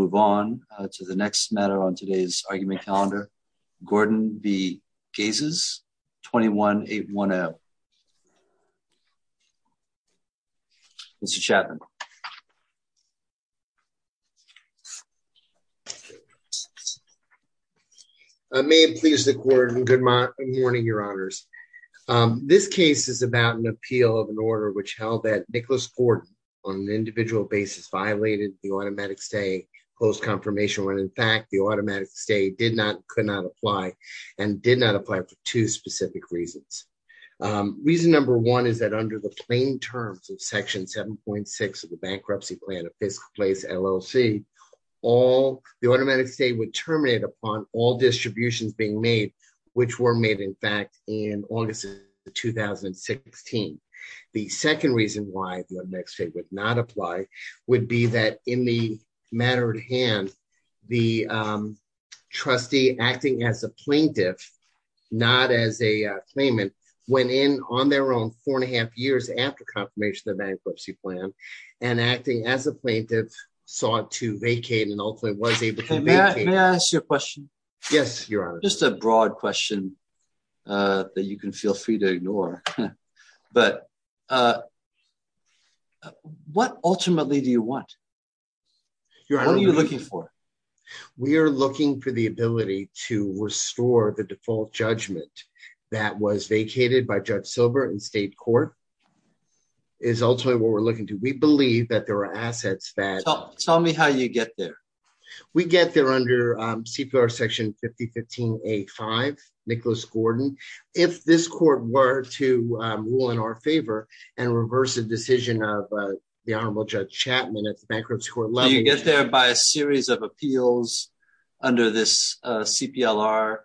Moving on to the next matter on today's argument calendar, Gordon B. Gases, 21-810. Mr. Chapman. May it please the court and good morning, your honors. This case is about an appeal of an order which held that Nicholas Gordon on an individual basis violated the automatic stay post confirmation when in fact the automatic stay did not could not apply and did not apply for two specific reasons. Reason number one is that under the plain terms of section 7.6 of the bankruptcy plan of Fiske Place, LLC, all the automatic stay would terminate upon all distributions being made, which were made in fact in August of 2016. The second reason why the automatic stay would not apply would be that in the matter at hand, the trustee acting as a plaintiff, not as a claimant, went in on their own four and a half years after confirmation of bankruptcy plan and acting as a plaintiff sought to vacate and ultimately was able to vacate. May I ask you a question? Yes, your honor. Just a broad question that you can feel free to ignore. But what ultimately do you want? What are you looking for? We are looking for the ability to restore the default judgment that was vacated by Judge Silber in state court is ultimately what we're looking to. We believe that there are assets that... Tell me how you get there. We get there under CPLR section 5015A5, Nicholas Gordon. If this court were to rule in our favor and reverse the decision of the Honorable Judge Chapman at the bankruptcy court level... You get there by a series of appeals under this CPLR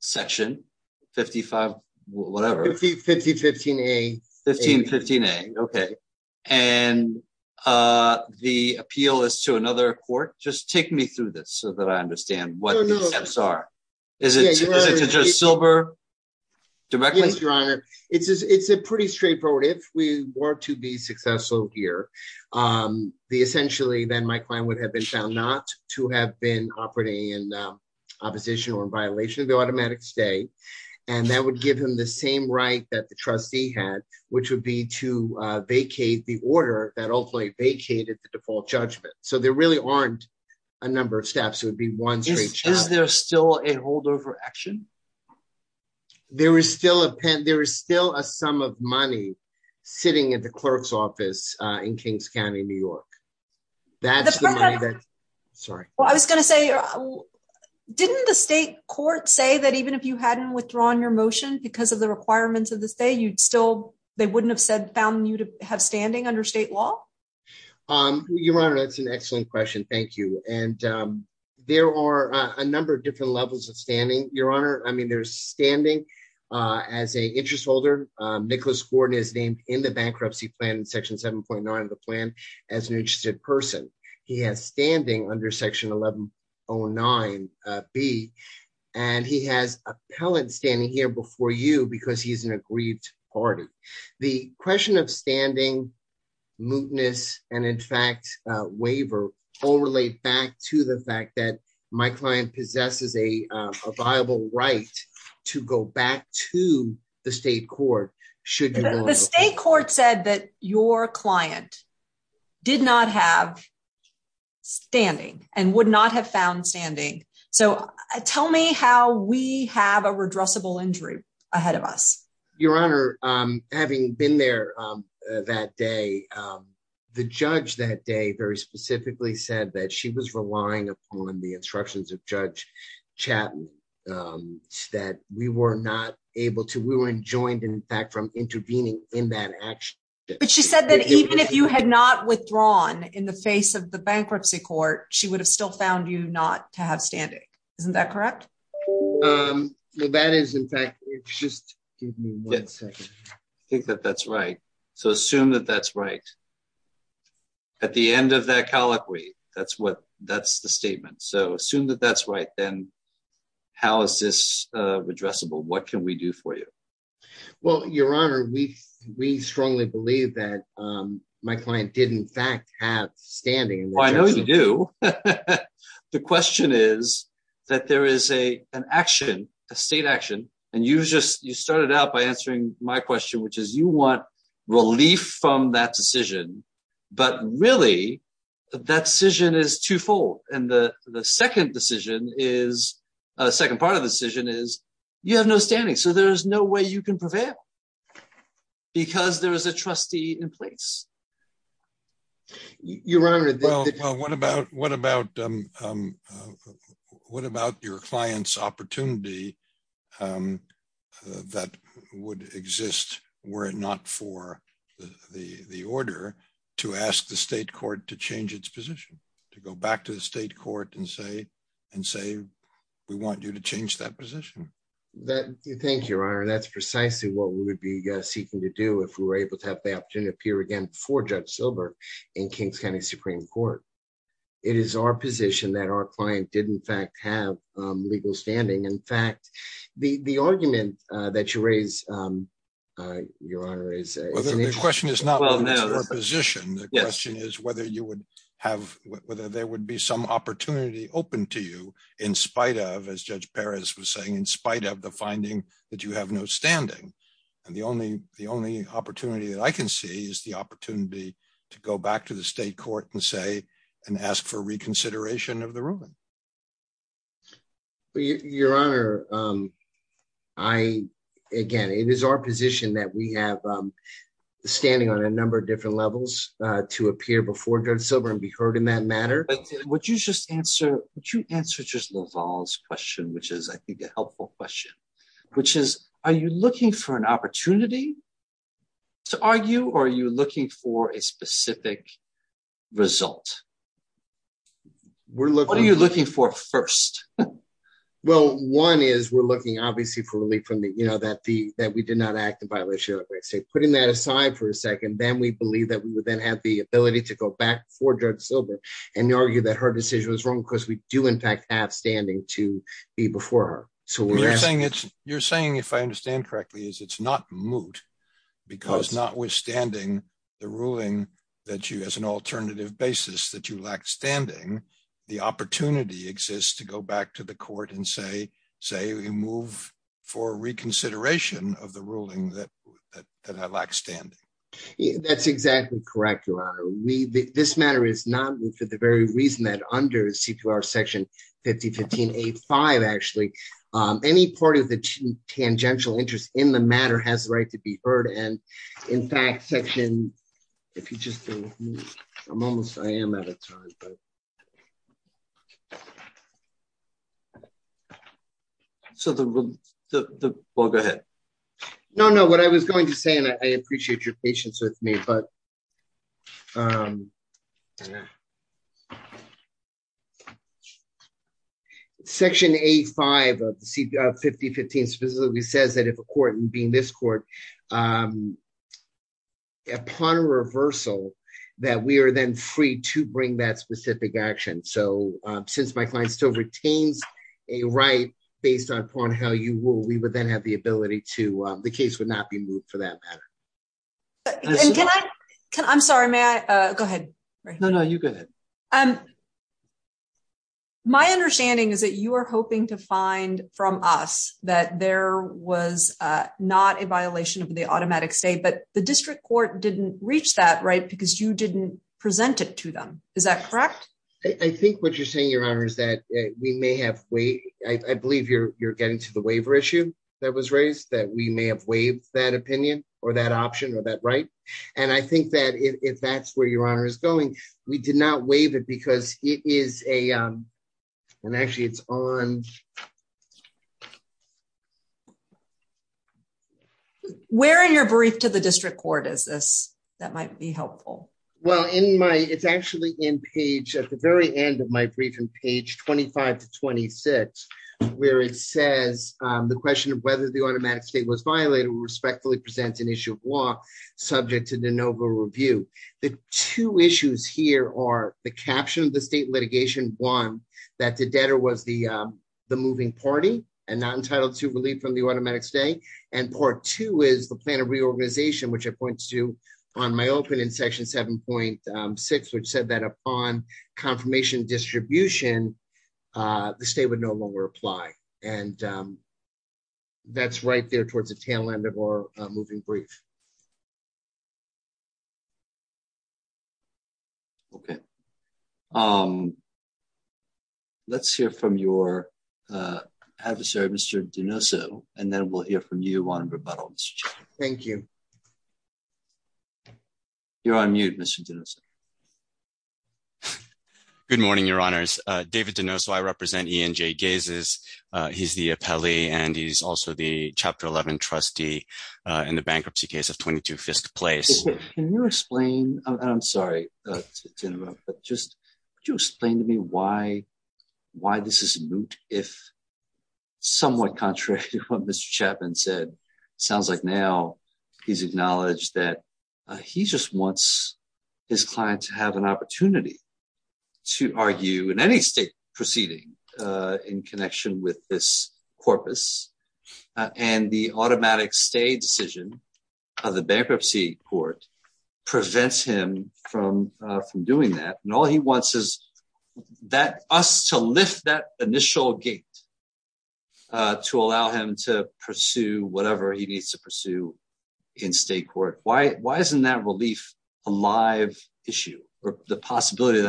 section, 55, whatever. 5015A. Okay. And the appeal is to another court. Just take me through this so that I understand what the steps are. Is it to Judge Silber directly? Yes, your honor. It's a pretty straightforward. If we were to be successful here, essentially then my client would have been found not to have been operating in opposition or in violation of the automatic stay. And that would give him the same right that the trustee had, which would be to vacate the order that ultimately vacated the default judgment. So there really aren't a number of steps. It would be one straight shot. Is there still a holdover action? There is still a pen. There is still a sum of money sitting at the clerk's office in Kings County, New York. That's the money that... Sorry. I was going to say, didn't the state court say that even if you hadn't withdrawn your motion because of the requirements of the state, you'd still... They wouldn't have said found you to have standing under state law? Your honor, that's an excellent question. Thank you. And there are a number of different levels of standing, your honor. I mean, there's standing as a interest holder. Nicholas Gordon is named in the bankruptcy plan in Section 7.9 of the plan as an interested person. He has standing under Section 1109B. And he has appellant standing here before you because he's an aggrieved party. The question of standing, mootness, and in fact, waiver, all relate back to the fact that my client possesses a viable right to go back to the state court. The state court said that your client did not have standing and would not have found standing. So tell me how we have a redressable injury ahead of us. Your honor, having been there that day, the judge that day very specifically said that she was relying upon the instructions of Judge Chapman that we were not able to... We were enjoined, in fact, from intervening in that action. But she said that even if you had not withdrawn in the face of the bankruptcy court, she would have still found you not to have standing. Isn't that correct? Well, that is, in fact... Just give me one second. I think that that's right. So assume that that's right. At the end of that colloquy, that's the statement. So assume that that's right, then how is this redressable? What can we do for you? Well, your honor, we strongly believe that my client did, in fact, have standing. Well, I know you do. The question is that there is an action, a state action, and you just you started out by answering my question, which is you want relief from that decision. But really, that decision is twofold. And the second decision is a second part of the decision is you have no standing. So there is no way you can prevail because there is a trustee in place. Your honor. Well, what about what about what about your client's opportunity that would exist were it not for the order to ask the state court to change its position to go back to the state court and say and say we want you to change that position. Thank you, your honor. That's precisely what we would be seeking to do if we were able to have the opportunity to appear again before Judge Silber in King's County Supreme Court. It is our position that our client did in fact have legal standing. In fact, the argument that you raise, your honor, is a question is not our position. The question is whether you would have whether there would be some opportunity open to you in spite of, as Judge Perez was saying, in spite of the finding that you have no standing. And the only the only opportunity that I can see is the opportunity to go back to the state court and say and ask for reconsideration of the ruling. Your honor, I, again, it is our position that we have standing on a number of different levels to appear before Judge Silber and be heard in that matter. Would you just answer, would you answer just Laval's question, which is I think a helpful question, which is, are you looking for an opportunity to argue or are you looking for a specific result? What are you looking for first? Well, one is we're looking, obviously, for relief from the, you know, that the that we did not act in violation of state, putting that aside for a second. Then we believe that we would then have the ability to go back for Judge Silber and argue that her decision was wrong because we do, in fact, have standing to be before her. You're saying it's you're saying, if I understand correctly, is it's not moot because notwithstanding the ruling that you as an alternative basis that you lack standing. The opportunity exists to go back to the court and say, say we move for reconsideration of the ruling that that I lack standing. That's exactly correct. Your honor, we this matter is not for the very reason that under CPR section 5015 a five actually any part of the tangential interest in the matter has the right to be heard. And in fact, section, if you just, I'm almost I am at a time. So the book ahead. No, no, what I was going to say, and I appreciate your patience with me, but section a five of the CPR 5015 specifically says that if a court and being this court upon reversal, that we are then free to bring that specific action so since my client still retains a right based upon how you will we would then have the ability to the case would not be moved for that matter. I'm sorry, man. Go ahead. No, no, you go ahead. My understanding is that you are hoping to find from us that there was not a violation of the automatic state but the district court didn't reach that right because you didn't present it to them. I think what you're saying your honor is that we may have way, I believe you're getting to the waiver issue that was raised that we may have waived that opinion, or that option or that right. And I think that if that's where your honor is going. We did not waive it because it is a. And actually it's on where in your brief to the district court is this, that might be helpful. Well in my it's actually in page at the very end of my brief and page 25 to 26, where it says the question of whether the automatic state was violated respectfully present an issue of law, subject to the Nova review the two issues here are the caption the state litigation one that the debtor was the, the moving party, and not entitled to relief from the automatic stay and part two is the plan of reorganization which points to on my Okay. Um, let's hear from your adversary Mr Dino so, and then we'll hear from you on rebuttal. Thank you. You're on mute. Good morning, your honors, David to know so I represent he and Jay gazes. He's the appellee and he's also the chapter 11 trustee in the bankruptcy case of 22 fist place. Can you explain, I'm sorry. Just to explain to me why, why this is moot, if somewhat contrary to what Mr Chapman said, sounds like now. He's acknowledged that he just wants his clients have an opportunity to argue in any state proceeding in connection with this corpus, and the automatic state decision of the bankruptcy court prevents him from from doing that and all he wants is that us to lift that initial gate to allow him to pursue whatever he needs to pursue in state court, why, why isn't that relief, a live issue, or the possibility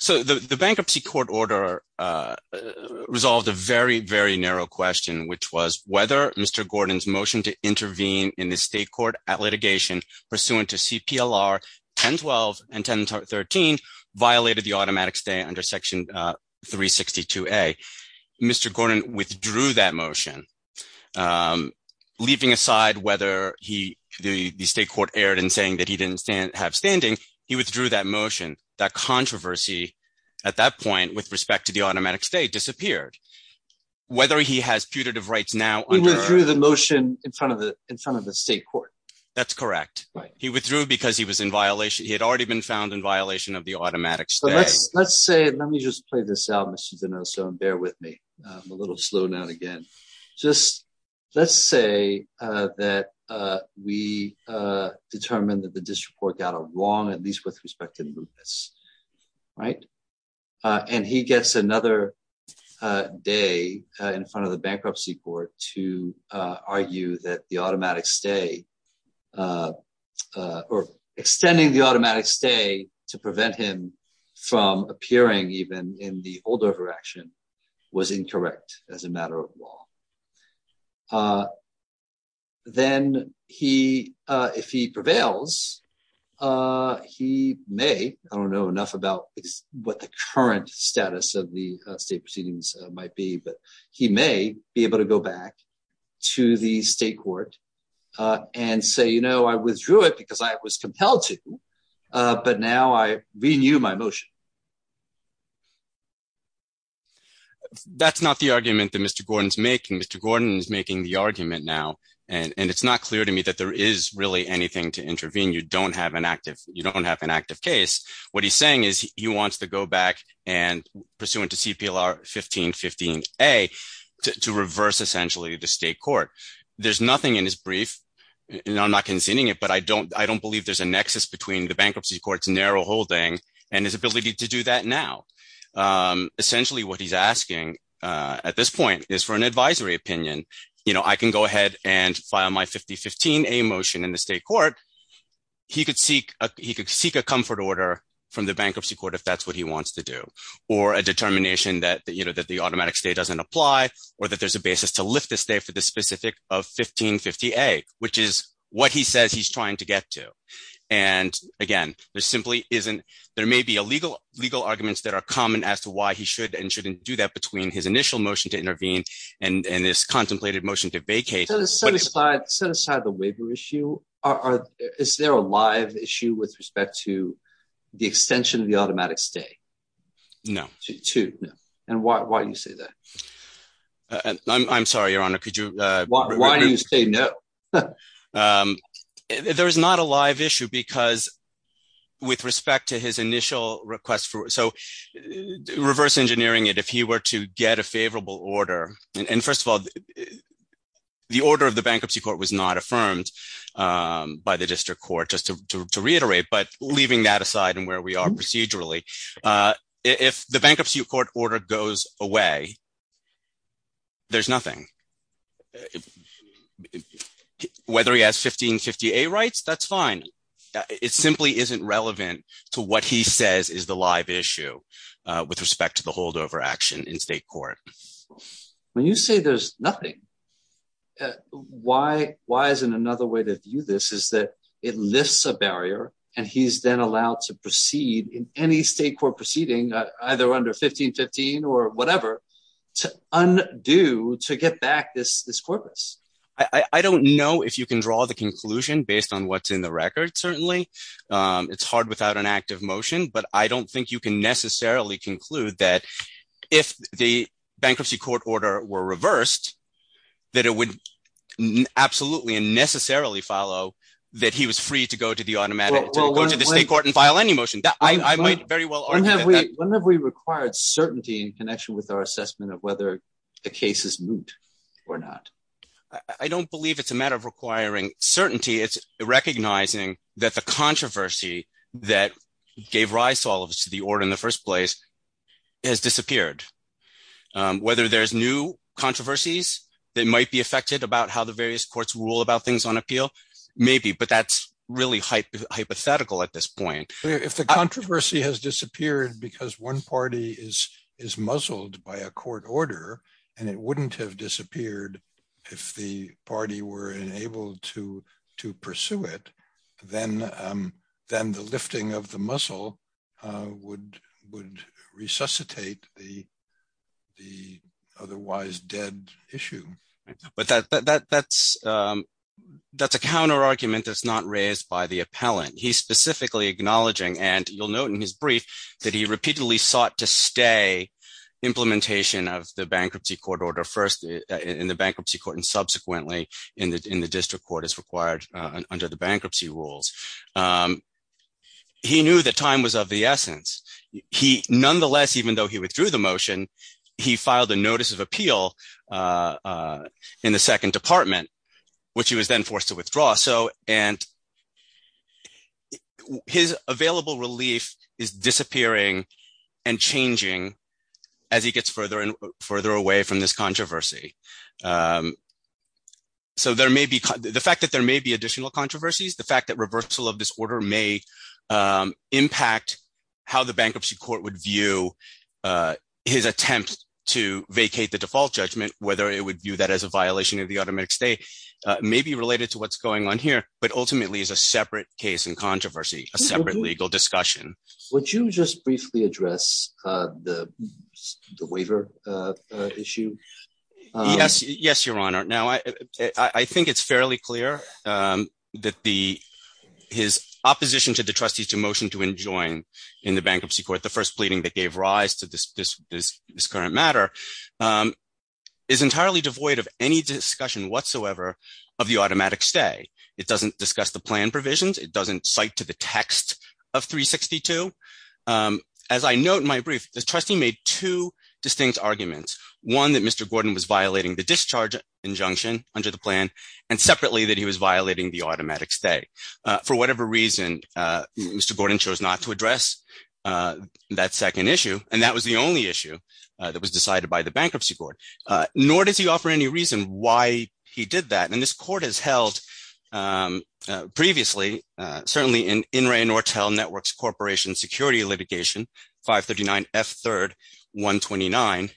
So the bankruptcy court order resolved a very very narrow question which was whether Mr Gordon's motion to intervene in the state court at litigation, pursuant to CPL are 1012 and 1013 violated the automatic stay under section 362 a. Mr Gordon withdrew that motion. Leaving aside whether he, the state court aired and saying that he didn't stand have standing, he withdrew that motion that controversy. At that point, with respect to the automatic state disappeared. Whether he has putative rights now through the motion in front of the, in front of the state court. That's correct. He withdrew because he was in violation he had already been found in violation of the automatic. So let's, let's say, let me just play this out. So bear with me a little slow down again. Just, let's say that we determined that the district court got a long at least with respect to this. Right. And he gets another day in front of the bankruptcy court to argue that the automatic stay Or extending the automatic stay to prevent him from appearing even in the older action was incorrect as a matter of law. Then, he, if he prevails. He may, I don't know enough about what the current status of the state proceedings might be but he may be able to go back to the state court and say you know I withdrew it because I was compelled to. But now I renew my motion. That's not the argument that Mr Gordon's making Mr Gordon's making the argument now, and it's not clear to me that there is really anything to intervene you don't have an active, you don't have an active case. What he's saying is he wants to go back and pursuant to CPL are 1515 a to reverse essentially the state court. There's nothing in his brief. And I'm not conceding it but I don't I don't believe there's a nexus between the bankruptcy courts narrow holding and his ability to do that now. Essentially what he's asking at this point is for an advisory opinion, you know, I can go ahead and file my 5015 a motion in the state court. He could seek, he could seek a comfort order from the bankruptcy court if that's what he wants to do, or a determination that you know that the automatic state doesn't apply, or that there's a basis to lift this day for the specific of 1550 a, which is what he says he's trying to get to. And again, there simply isn't. There may be a legal legal arguments that are common as to why he should and shouldn't do that between his initial motion to intervene, and this contemplated motion to vacate set aside the waiver issue, or is there a live issue with respect to the extension of the automatic stay. No. And why do you say that. I'm sorry, Your Honor, could you. Why do you say no. There's not a live issue because with respect to his initial request for so reverse engineering it if he were to get a favorable order. And first of all, the order of the bankruptcy court was not affirmed by the district court just to reiterate but leaving that aside and where we are procedurally. If the bankruptcy court order goes away. There's nothing. Whether he has 1550 a rights that's fine. It simply isn't relevant to what he says is the live issue with respect to the holdover action in state court. When you say there's nothing. Why, why isn't another way to view this is that it lifts a barrier, and he's then allowed to proceed in any state court proceeding, either under 1515 or whatever to undo to get back this this corpus. I don't know if you can draw the conclusion based on what's in the record, certainly. It's hard without an active motion but I don't think you can necessarily conclude that if the bankruptcy court order were reversed, that it would absolutely and necessarily follow that he was free to go to the automatic go to the state court and file any motion that I might have we required certainty in connection with our assessment of whether the case is moot or not. I don't believe it's a matter of requiring certainty it's recognizing that the controversy that gave rise to all of us to the order in the first place has disappeared. Whether there's new controversies that might be affected about how the various courts rule about things on appeal, maybe but that's really hypothetical at this point, if the controversy has disappeared because one party is is muzzled by a court order, and it wouldn't have disappeared. If the party were enabled to to pursue it, then, then the lifting of the muscle would would resuscitate the, the otherwise dead issue, but that that that's, that's a counter argument that's not raised by the appellant he specifically acknowledging and you'll note in his brief that he repeatedly sought to stay implementation of the bankruptcy court order first in the bankruptcy court and subsequently in the in the district court is required under the bankruptcy rules. He knew that time was of the essence. He, nonetheless, even though he withdrew the motion. He filed a notice of appeal in the second department, which he was then forced to withdraw so and his available relief. Is disappearing and changing. As he gets further and further away from this controversy. So there may be the fact that there may be additional controversies the fact that reversal of this order may impact how the bankruptcy court would view his attempt to vacate the default judgment, whether it would view that as a violation of the automatic stay. Maybe related to what's going on here, but ultimately is a separate case and controversy, a separate legal discussion, which you just briefly address the waiver issue. Yes, yes, Your Honor. Now I think it's fairly clear that the, his opposition to the trustees to motion to enjoy in the bankruptcy court the first pleading that gave rise to this, this, this current matter is entirely devoid of any discussion whatsoever. Of the automatic stay. It doesn't discuss the plan provisions, it doesn't cite to the text of 362. As I note in my brief, the trustee made two distinct arguments, one that Mr Gordon was violating the discharge injunction under the plan, and separately that he was violating the automatic stay. For whatever reason, Mr Gordon chose not to address that second issue, and that was the only issue that was decided by the bankruptcy board, nor does he offer any reason why he did that and this court has held. Previously, certainly in in rain or tell networks Corporation security litigation 539 F third 129,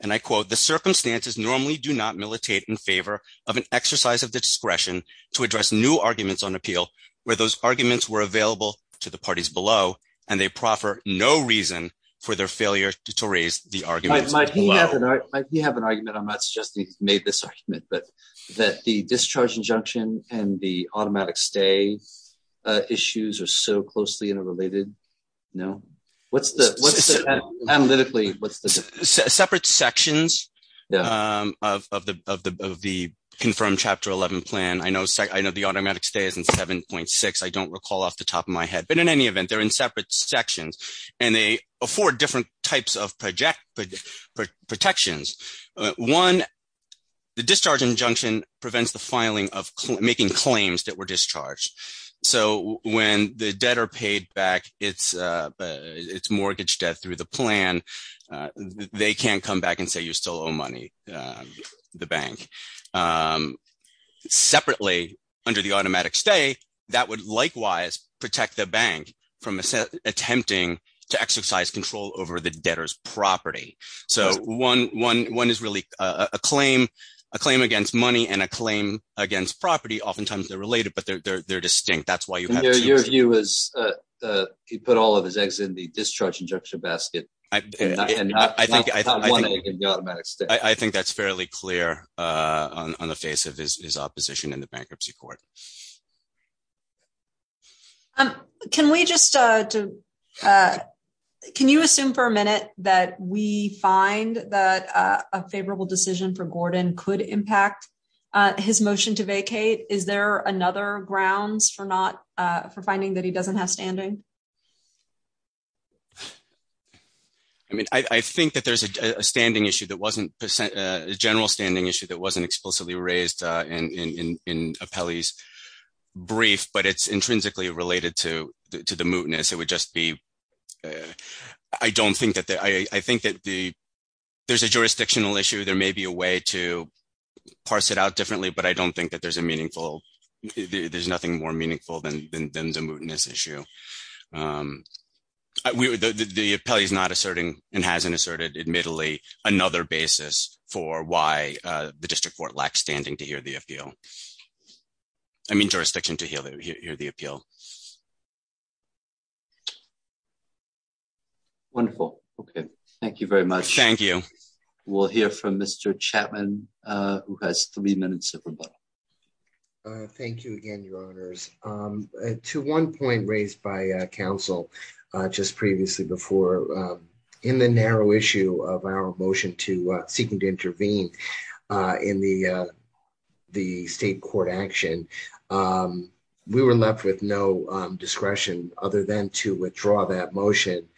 and I quote the circumstances normally do not militate in favor of an exercise of discretion to address new arguments on appeal, where those arguments were available to the parties below, and they proffer, no reason for their failure to raise the argument. You have an argument I'm not suggesting made this argument but that the discharge injunction, and the automatic stay issues are so closely interrelated. No. What's the analytically, what's the separate sections of the, of the, of the confirmed chapter 11 plan I know so I know the automatic stays and 7.6 I don't recall off the top of my head but in any event they're in separate sections, and they afford different types of project protections. One, the discharge injunction prevents the filing of making claims that were discharged. So, when the debtor paid back, it's, it's mortgage debt through the plan. They can't come back and say you still owe money, the bank separately, under the automatic stay, that would likewise protect the bank from attempting to exercise control over the debtors property. So, one, one, one is really a claim, a claim against money and a claim against property oftentimes they're related but they're distinct that's why you have your view is he put all of his eggs in the discharge injunction basket. I think I think that's fairly clear on the face of his opposition in the bankruptcy court. Um, can we just, can you assume for a minute that we find that a favorable decision for Gordon could impact his motion to vacate. Is there another grounds for not for finding that he doesn't have standing. I mean, I think that there's a standing issue that wasn't percent general standing issue that wasn't explicitly raised in a Pelley's brief but it's intrinsically related to, to the mootness it would just be. I don't think that I think that the, there's a jurisdictional issue there may be a way to parse it out differently but I don't think that there's a meaningful. There's nothing more meaningful than the mootness issue. Wonderful. Okay. Thank you very much. Thank you. We'll hear from Mr Chapman, who has three minutes. Thank you again, your honors, to one point raised by council, just previously before in the narrow issue of our motion to seeking to intervene in the, the state court action. We were left with no discretion, other than to withdraw that motion,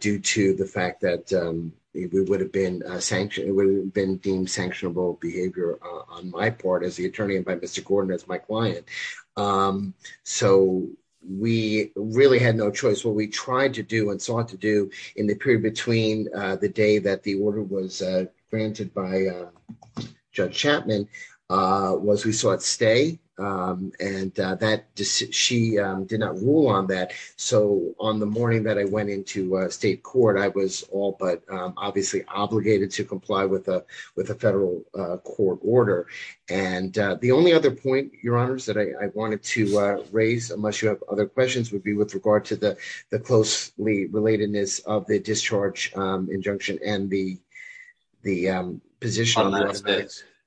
due to the fact that we would have been sanctioned would have been deemed sanctionable behavior on my part as the attorney and by Mr Gordon as my client. So, we really had no choice what we tried to do and sought to do in the period between the day that the order was granted by judge Chapman was we saw it stay, and that she did not rule on that. So, on the morning that I went into state court I was all but obviously obligated to comply with a with a federal court order. And the only other point, your honors that I wanted to raise unless you have other questions would be with regard to the, the closely relatedness of the discharge injunction and the, the position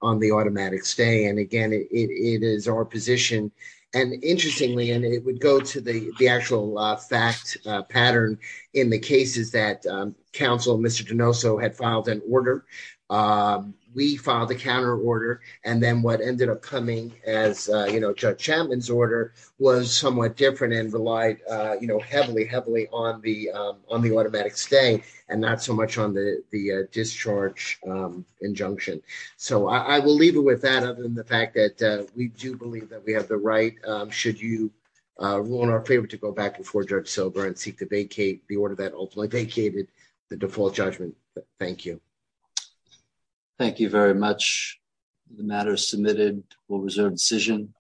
on the automatic stay and again it is our position. And interestingly, and it would go to the, the actual fact pattern in the cases that counsel Mr to know, so had filed an order. We filed a counter order and then what ended up coming as judge Chapman's order was somewhat different and relied heavily heavily on the, on the automatic stay and not so much on the, the discharge injunction. So I will leave it with that other than the fact that we do believe that we have the right. Should you want our favorite to go back before judge sober and seek to vacate the order that ultimately vacated the default judgment. Thank you. Thank you very much. The matter submitted will reserve decision.